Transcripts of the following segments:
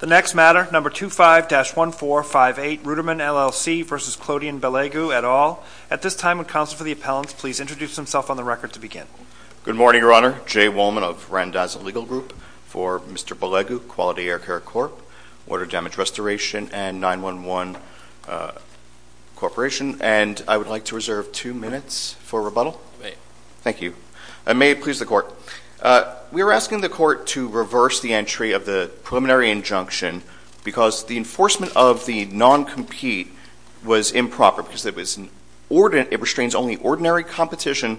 The next matter, number 25-1458, Rooterman LLC v. Clodian Belegu, et al. At this time, would counsel for the appellant please introduce himself on the record to begin. Good morning, Your Honor. Jay Wollman of Randazzo Legal Group for Mr. Belegu, Quality Air Care Corp., Water Damage Restoration, and 911 Corporation, and I would like to reserve two minutes for rebuttal. Thank you. May it please the Court. We are asking the Court to reverse the entry of the preliminary injunction because the enforcement of the non-compete was improper because it restrains only ordinary competition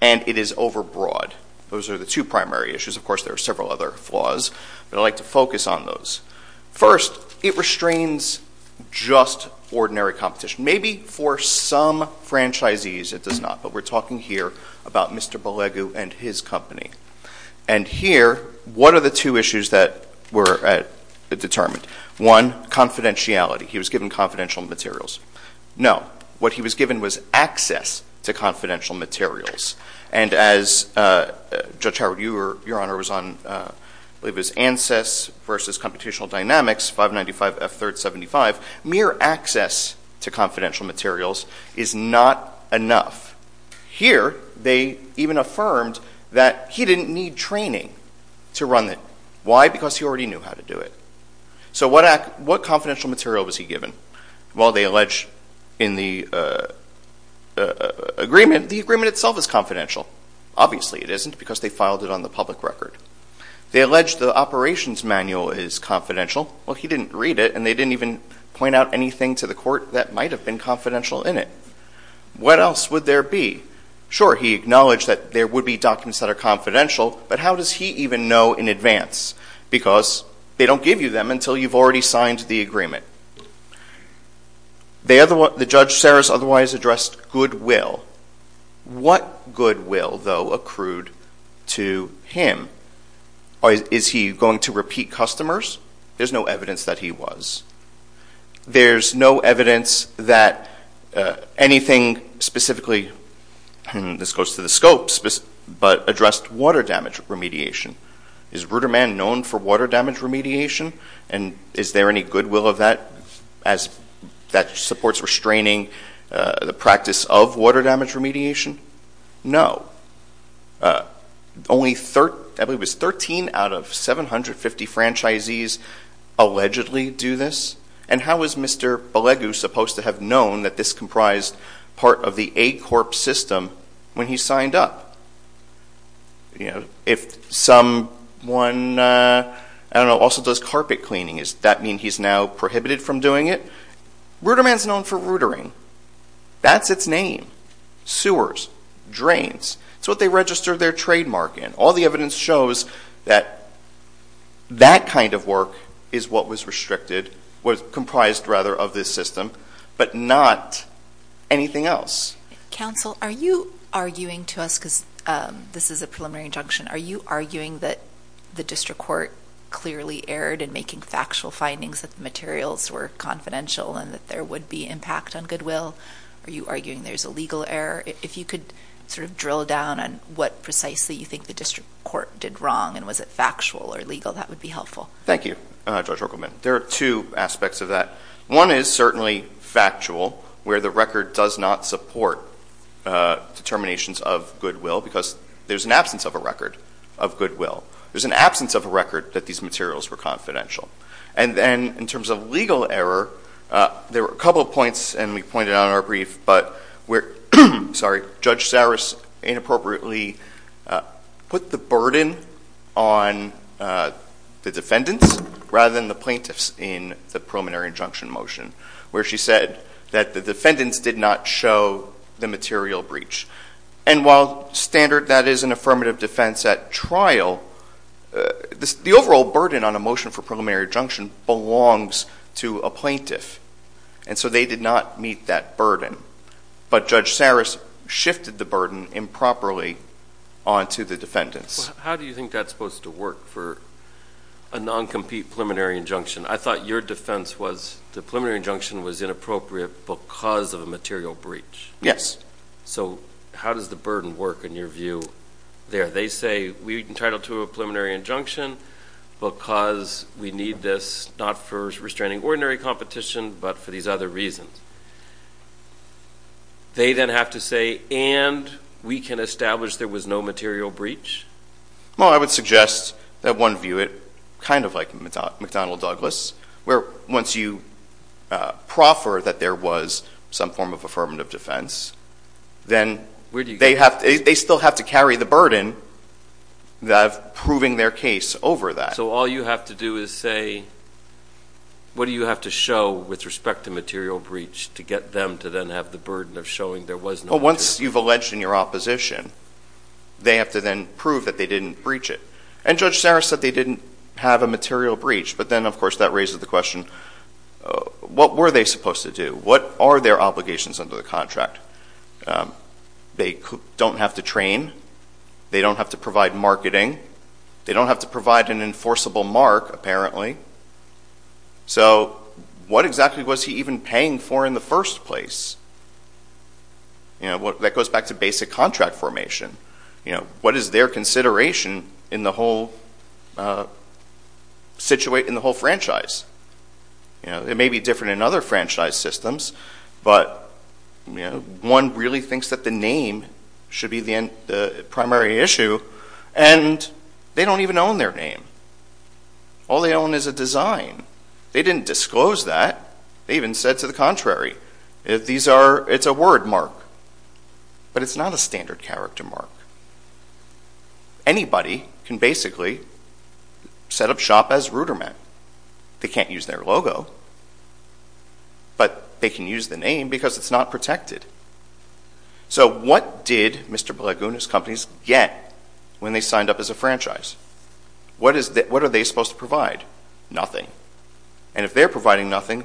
and it is overbroad. Those are the two primary issues. Of course, there are several other flaws, but I'd like to focus on those. First, it restrains just ordinary competition. Maybe for some franchisees it does not, but we're talking here about Mr. Belegu and his company. And here, what are the two issues that were determined? One, confidentiality. He was given confidential materials. No. What he was given was access to confidential materials. And as, Judge Howard, your Honor was on, I believe it was ANSYS v. Computational Dynamics, 595F375, mere access to confidential materials is not enough. Here, they even affirmed that he didn't need training to run it. Why? Because he already knew how to do it. So what confidential material was he given? Well, they allege in the agreement, the agreement itself is confidential. Obviously it isn't because they filed it on the public record. They allege the operations manual is confidential. Well, he didn't read it, and they didn't even point out anything to the court that might have been confidential in it. What else would there be? Sure, he acknowledged that there would be documents that are confidential, but how does he even know in advance? Because they don't give you them until you've already signed the agreement. The judge, Saris, otherwise addressed goodwill. What goodwill, though, accrued to him? Is he going to repeat customers? There's no evidence that he was. There's no evidence that anything specifically, and this goes to the scopes, but addressed water damage remediation. Is Ruderman known for water damage remediation? And is there any goodwill of that as that supports restraining the practice of water damage remediation? No. Only 13 out of 750 franchisees allegedly do this, and how is Mr. Belegu supposed to have known that this comprised part of the A-Corp system when he signed up? If someone also does carpet cleaning, does that mean he's now prohibited from doing it? Ruderman's known for rootering. That's its name, sewers, drains. It's what they register their trademark in. All the evidence shows that that kind of work is what was restricted, was comprised, rather, of this system, but not anything else. Counsel, are you arguing to us, because this is a preliminary injunction, are you arguing that the district court clearly erred in making factual findings that the materials were confidential and that there would be impact on goodwill? Are you arguing there's a legal error? If you could sort of drill down on what precisely you think the district court did wrong, and was it factual or legal, that would be helpful. Thank you, Judge Ruckelman. There are two aspects of that. One is certainly factual, where the record does not support determinations of goodwill because there's an absence of a record of goodwill. There's an absence of a record that these materials were confidential. And then in terms of legal error, there were a couple of points, and we pointed out in our brief, but Judge Saris inappropriately put the burden on the defendants rather than the plaintiffs in the preliminary injunction motion, where she said that the defendants did not show the material breach. And while standard, that is, an affirmative defense at trial, the overall burden on a motion for preliminary injunction belongs to a plaintiff, and so they did not meet that burden. But Judge Saris shifted the burden improperly onto the defendants. How do you think that's supposed to work for a noncompete preliminary injunction? I thought your defense was the preliminary injunction was inappropriate because of a material breach. Yes. So how does the burden work in your view there? They say we're entitled to a preliminary injunction because we need this not for restraining ordinary competition but for these other reasons. They then have to say, and we can establish there was no material breach? Well, I would suggest that one view it kind of like McDonnell-Douglas, where once you proffer that there was some form of affirmative defense, then they still have to carry the burden of proving their case over that. So all you have to do is say, what do you have to show with respect to material breach to get them to then have the burden of showing there was no material breach? Well, once you've alleged in your opposition, they have to then prove that they didn't breach it. And Judge Saris said they didn't have a material breach, but then, of course, that raises the question, what were they supposed to do? What are their obligations under the contract? They don't have to train. They don't have to provide marketing. They don't have to provide an enforceable mark, apparently. So what exactly was he even paying for in the first place? That goes back to basic contract formation. What is their consideration in the whole franchise? It may be different in other franchise systems, but one really thinks that the name should be the primary issue, and they don't even own their name. All they own is a design. They didn't disclose that. They even said to the contrary, it's a word mark. But it's not a standard character mark. Anybody can basically set up shop as Ruderman. They can't use their logo, but they can use the name because it's not protected. So what did Mr. Blagun's companies get when they signed up as a franchise? What are they supposed to provide? Nothing. And if they're providing nothing,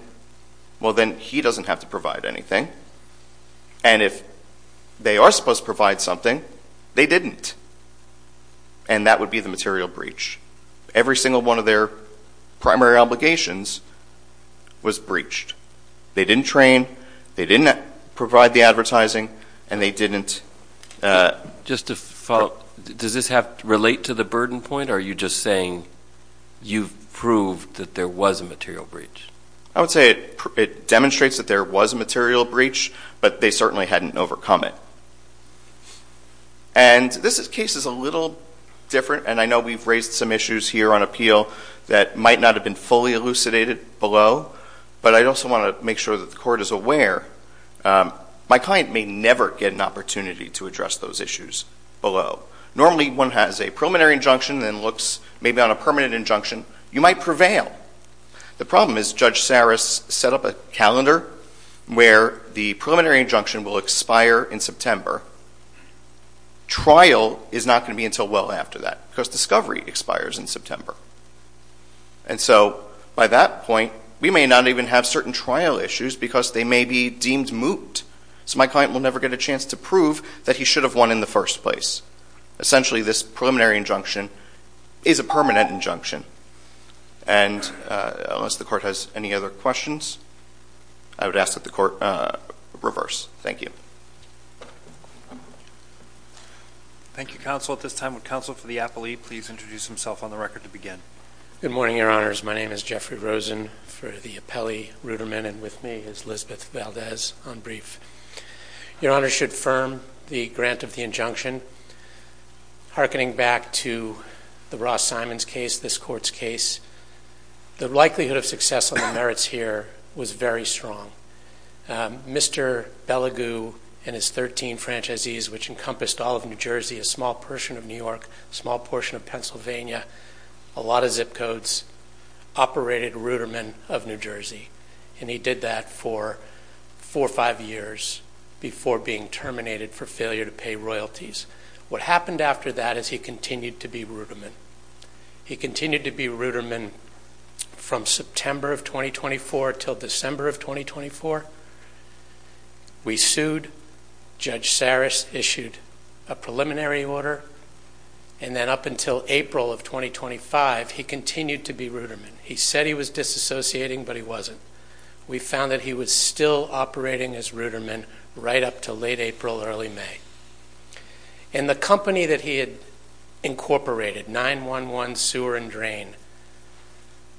well, then he doesn't have to provide anything. And if they are supposed to provide something, they didn't, and that would be the material breach. Every single one of their primary obligations was breached. They didn't train. They didn't provide the advertising, and they didn't. Does this relate to the burden point, or are you just saying you've proved that there was a material breach? I would say it demonstrates that there was a material breach, but they certainly hadn't overcome it. And this case is a little different, and I know we've raised some issues here on appeal that might not have been fully elucidated below, but I also want to make sure that the court is aware. My client may never get an opportunity to address those issues below. Normally, one has a preliminary injunction and looks maybe on a permanent injunction. You might prevail. The problem is Judge Saris set up a calendar where the preliminary injunction will expire in September. Trial is not going to be until well after that because discovery expires in September. And so by that point, we may not even have certain trial issues because they may be deemed moot. So my client will never get a chance to prove that he should have won in the first place. Essentially, this preliminary injunction is a permanent injunction. And unless the court has any other questions, I would ask that the court reverse. Thank you. Thank you, counsel. At this time, would counsel for the appellee please introduce himself on the record to begin? Good morning, Your Honors. My name is Jeffrey Rosen for the appellee rudiment, and with me is Lisbeth Valdez on brief. Your Honors should affirm the grant of the injunction. Harkening back to the Ross Simons case, this court's case, the likelihood of success on the merits here was very strong. Mr. Bellegou and his 13 franchisees, which encompassed all of New Jersey, a small portion of New York, a small portion of Pennsylvania, a lot of zip codes, operated rudiment of New Jersey. And he did that for four or five years before being terminated for failure to pay royalties. What happened after that is he continued to be rudiment. He continued to be rudiment from September of 2024 until December of 2024. We sued. Judge Saris issued a preliminary order. And then up until April of 2025, he continued to be rudiment. He said he was disassociating, but he wasn't. We found that he was still operating as rudiment right up to late April, early May. And the company that he had incorporated, 9-1-1 Sewer and Drain,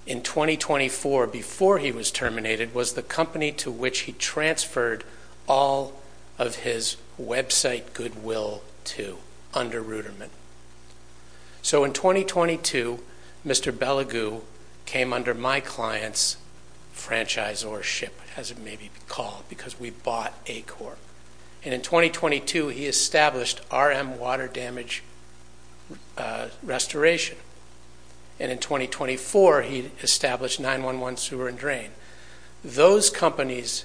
in 2024, before he was terminated, was the company to which he transferred all of his website goodwill to under rudiment. So in 2022, Mr. Bellegou came under my client's franchisorship, as it may be called, because we bought ACORP. And in 2022, he established RM Water Damage Restoration. And in 2024, he established 9-1-1 Sewer and Drain. Those companies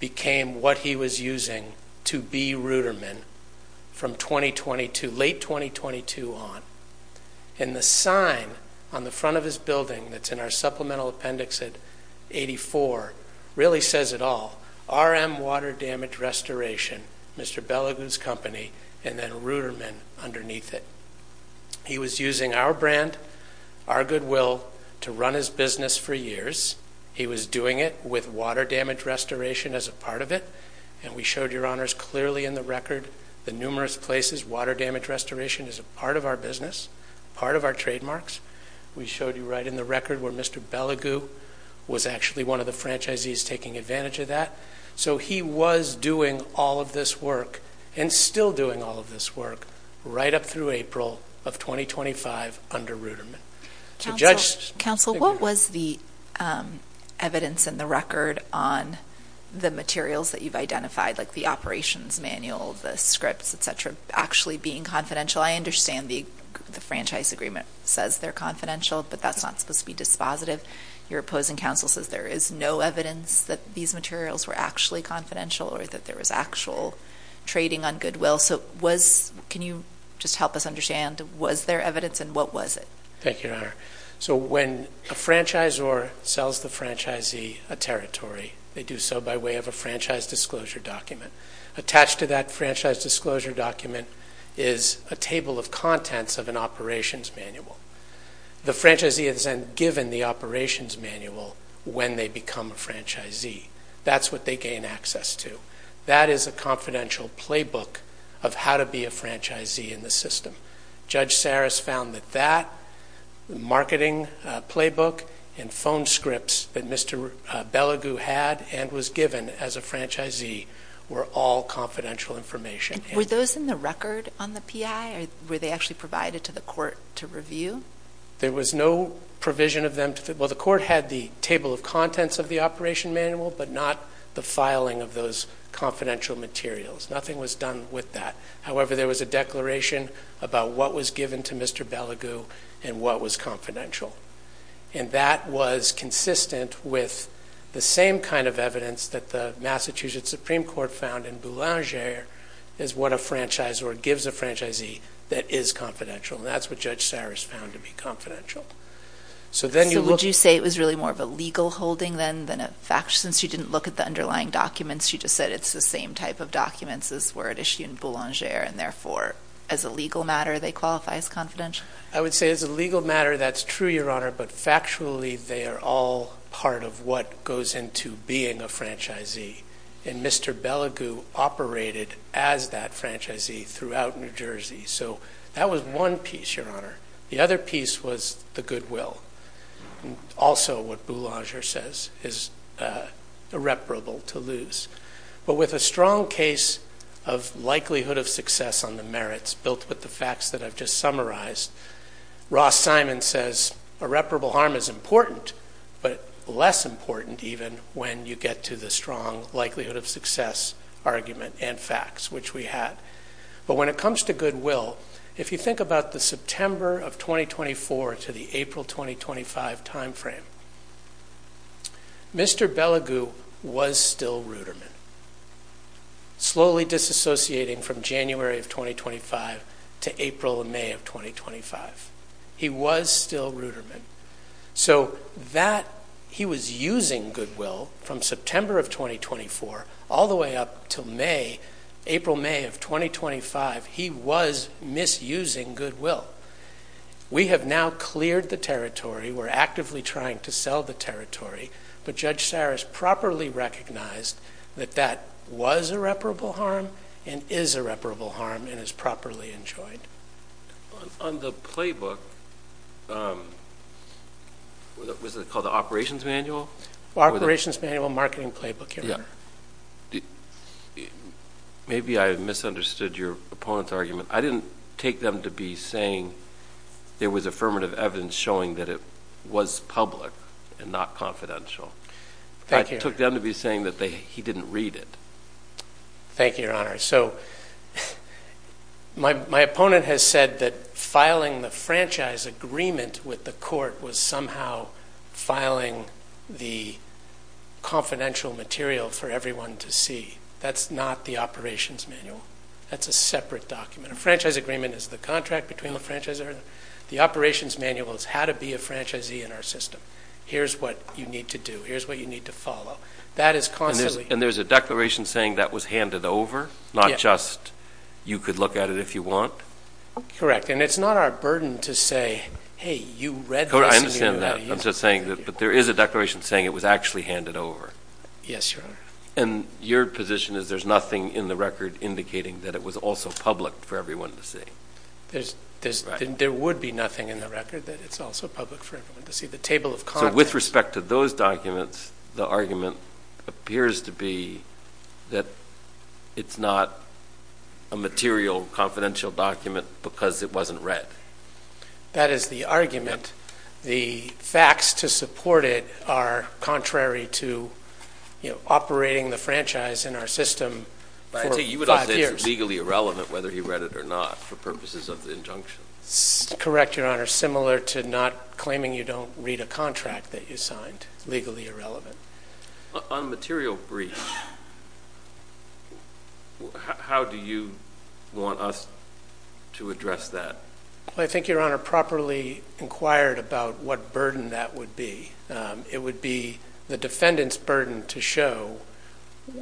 became what he was using to be rudiment from 2022, late 2022 on. And the sign on the front of his building that's in our supplemental appendix at 84 really says it all. RM Water Damage Restoration, Mr. Bellegou's company, and then rudiment underneath it. He was using our brand, our goodwill, to run his business for years. He was doing it with water damage restoration as a part of it. And we showed your honors clearly in the record, the numerous places water damage restoration is a part of our business, part of our trademarks. We showed you right in the record where Mr. Bellegou was actually one of the franchisees taking advantage of that. So he was doing all of this work and still doing all of this work right up through April of 2025 under rudiment. Council, what was the evidence in the record on the materials that you've identified, like the operations manual, the scripts, et cetera, actually being confidential? I understand the franchise agreement says they're confidential, but that's not supposed to be dispositive. Your opposing counsel says there is no evidence that these materials were actually confidential or that there was actual trading on goodwill. So can you just help us understand, was there evidence and what was it? Thank you, Your Honor. So when a franchisor sells the franchisee a territory, they do so by way of a franchise disclosure document. Attached to that franchise disclosure document is a table of contents of an operations manual. The franchisee is then given the operations manual when they become a franchisee. That's what they gain access to. That is a confidential playbook of how to be a franchisee in the system. Judge Saris found that that marketing playbook and phone scripts that Mr. Beligou had and was given as a franchisee were all confidential information. Were those in the record on the PI? Were they actually provided to the court to review? There was no provision of them. Well, the court had the table of contents of the operation manual, but not the filing of those confidential materials. Nothing was done with that. However, there was a declaration about what was given to Mr. Beligou and what was confidential. And that was consistent with the same kind of evidence that the Massachusetts Supreme Court found in Boulanger is what a franchisor gives a franchisee that is confidential. And that's what Judge Saris found to be confidential. So then you look... So would you say it was really more of a legal holding then than a factual? Since you didn't look at the underlying documents, you just said it's the same type of documents as were issued in Boulanger and therefore as a legal matter they qualify as confidential? I would say as a legal matter that's true, Your Honor, but factually they are all part of what goes into being a franchisee. And Mr. Beligou operated as that franchisee throughout New Jersey. So that was one piece, Your Honor. The other piece was the goodwill. Also what Boulanger says is irreparable to lose. But with a strong case of likelihood of success on the merits built with the facts that I've just summarized, Ross Simon says irreparable harm is important but less important even when you get to the strong likelihood of success argument and facts, which we had. But when it comes to goodwill, if you think about the September of 2024 to the April 2025 timeframe, Mr. Beligou was still Ruderman, slowly disassociating from January of 2025 to April and May of 2025. He was still Ruderman. So that he was using goodwill from September of 2024 all the way up to May, April, May of 2025, he was misusing goodwill. We have now cleared the territory. We're actively trying to sell the territory. But Judge Cyrus properly recognized that that was irreparable harm and is irreparable harm and is properly enjoyed. On the playbook, was it called the operations manual? Operations manual, marketing playbook, Your Honor. Maybe I misunderstood your opponent's argument. I didn't take them to be saying there was affirmative evidence showing that it was public and not confidential. I took them to be saying that he didn't read it. Thank you, Your Honor. My opponent has said that filing the franchise agreement with the court was somehow filing the confidential material for everyone to see. That's not the operations manual. That's a separate document. A franchise agreement is the contract between the franchisor. The operations manual is how to be a franchisee in our system. Here's what you need to do. Here's what you need to follow. That is constantly And there's a declaration saying that was handed over, not just you could look at it if you want? Correct. And it's not our burden to say, hey, you read this. I understand that. But there is a declaration saying it was actually handed over. Yes, Your Honor. And your position is there's nothing in the record indicating that it was also public for everyone to see. There would be nothing in the record that it's also public for everyone to see. The table of contents... So with respect to those documents, the argument appears to be that it's not a material confidential document because it wasn't read. That is the argument. The facts to support it are contrary to operating the franchise in our system for five years. Legally irrelevant whether he read it or not for purposes of the injunction. Correct, Your Honor. Similar to not claiming you don't read a contract that you signed. Legally irrelevant. On material briefs, how do you want us to address that? I think, Your Honor, properly inquired about what burden that would be. It would be the defendant's burden to show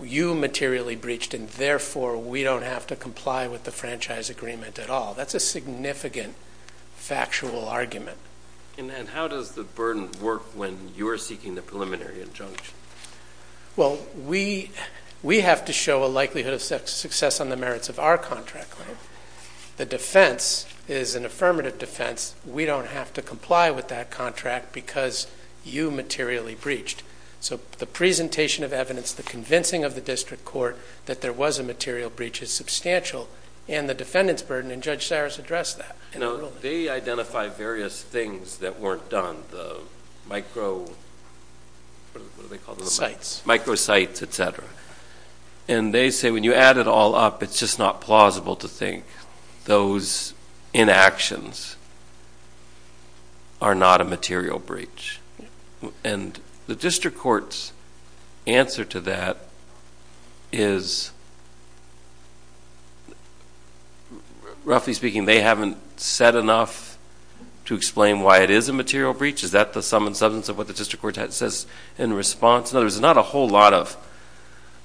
you materially breached and therefore we don't have to comply with the franchise agreement at all. That's a significant factual argument. And how does the burden work when you're seeking the preliminary injunction? Well, we have to show a likelihood of success on the merits of our contract. The defense is an affirmative defense. We don't have to comply with that contract because you materially breached. So the presentation of evidence, the convincing of the district court that there was a material breach is substantial and the defendant's burden and Judge Cyrus addressed that. They identify various things that weren't done. The micro sites, etc. And they say when you add it all up, it's just not plausible to think those inactions are not a material breach. And the district court's answer to that is roughly speaking, they haven't said enough to explain why it is a material breach. Is that the sum and substance of what the district court says in response? There's not a whole lot of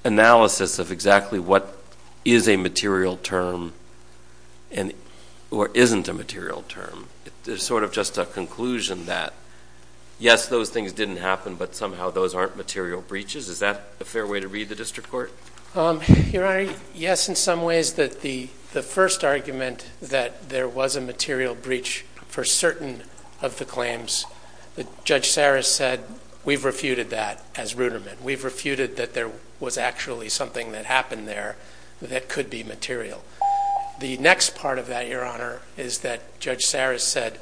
analysis of exactly what is a material term or isn't a material term. It's sort of just a conclusion that yes, those things didn't happen, but somehow those aren't material breaches. Is that a fair way to read the district court? Your Honor, yes in some ways. The first argument that there was a material breach for certain of the claims, Judge Cyrus said we've refuted that as rudiment. We've refuted that there was actually something that happened there that could be material. The next part of that, Your Honor, is that Judge Cyrus said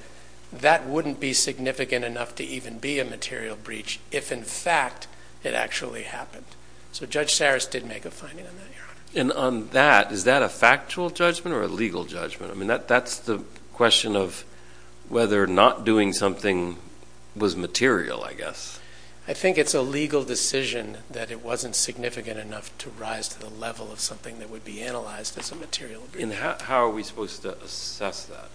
that wouldn't be significant enough to even be a material breach if in fact it actually happened. So Judge Cyrus did make a finding on that, Your Honor. And on that, is that a factual judgment or a legal judgment? I mean, that's the question of whether not doing something was material, I guess. I think it's a legal decision that it wasn't significant enough to rise to the level of something that would be analyzed as a material breach. How are we supposed to assess that?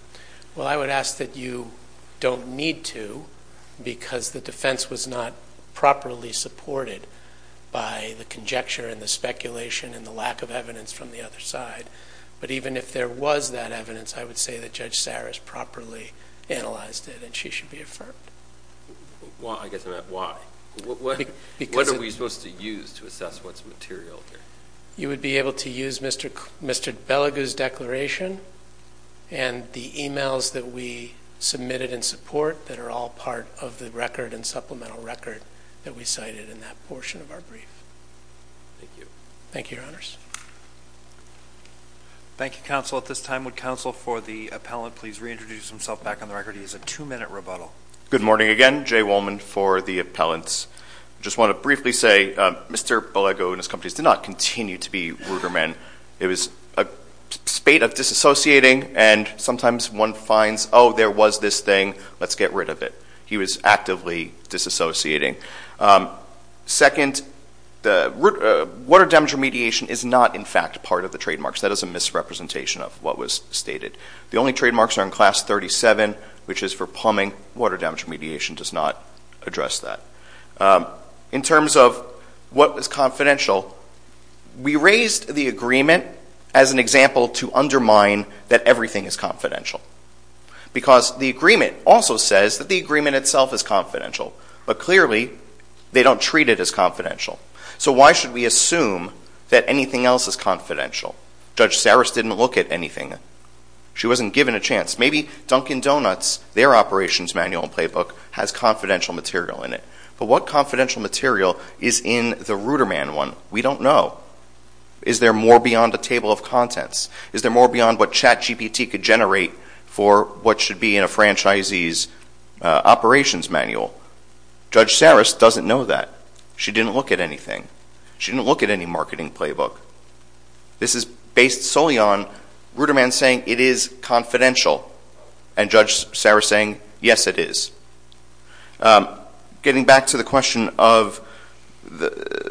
Well, I would ask that you don't need to because the defense was not properly supported by the conjecture and the speculation and the lack of evidence from the other side. But even if there was that evidence, I would say that Judge Cyrus properly analyzed it and she should be affirmed. Why? What are we supposed to use to assess what's material here? You would be able to use Mr. Belegu's declaration and the emails that we submitted in support that are all part of the record and supplemental record that we cited in that portion of our brief. Thank you. Thank you, Your Honors. Thank you, Counsel. At this time, would Counsel for the Appellant please reintroduce himself back on the record. He has a two-minute rebuttal. Good morning again. Jay Wolman for the Appellants. I just want to briefly say Mr. Belegu and his companies did not continue to be rudiment. It was a spate of disassociating and sometimes one finds, oh, there was this thing. Let's get rid of it. He was actively disassociating. Second, water damage remediation is not, in fact, part of the trademarks. That is a misrepresentation of what was stated. The only trademarks are in Class 37, which is for plumbing. Water damage remediation does not address that. In terms of what was confidential, we raised the agreement as an example to undermine that everything is confidential. Because the agreement also says that the agreement itself is confidential. But clearly, they don't treat it as confidential. So why should we assume that anything else is confidential? Judge Saris didn't look at anything. She wasn't given a chance. Maybe Dunkin' Donuts, their operations manual and playbook has confidential material in it. But what confidential material is in the Ruderman one? We don't know. Is there more beyond a table of contents? Is there more beyond what CHAT GPT could generate for what should be in a franchisee's operations manual? Judge Saris doesn't know that. She didn't look at anything. She didn't look at any marketing playbook. This is based solely on Ruderman saying it is confidential. And Judge Saris saying, yes it is. Getting back to the question of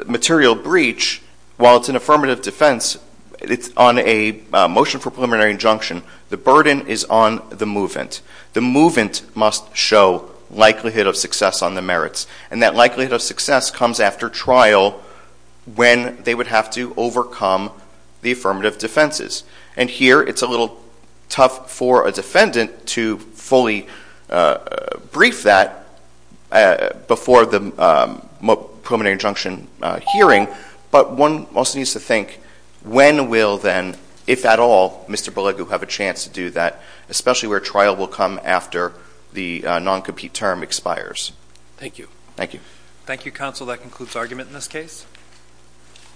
material breach, while it's an affirmative defense, it's on a motion for preliminary injunction. The burden is on the movant. The movant must show likelihood of success on the merits. And that likelihood of success comes after trial when they would have to overcome the affirmative defenses. And here it's a little tough for a defendant to fully brief that before the preliminary injunction hearing. But one also needs to think when will then, if at all, Mr. Belegu have a chance to do that, especially where trial will come after the non-compete term expires. Thank you. Thank you counsel. That concludes argument in this case.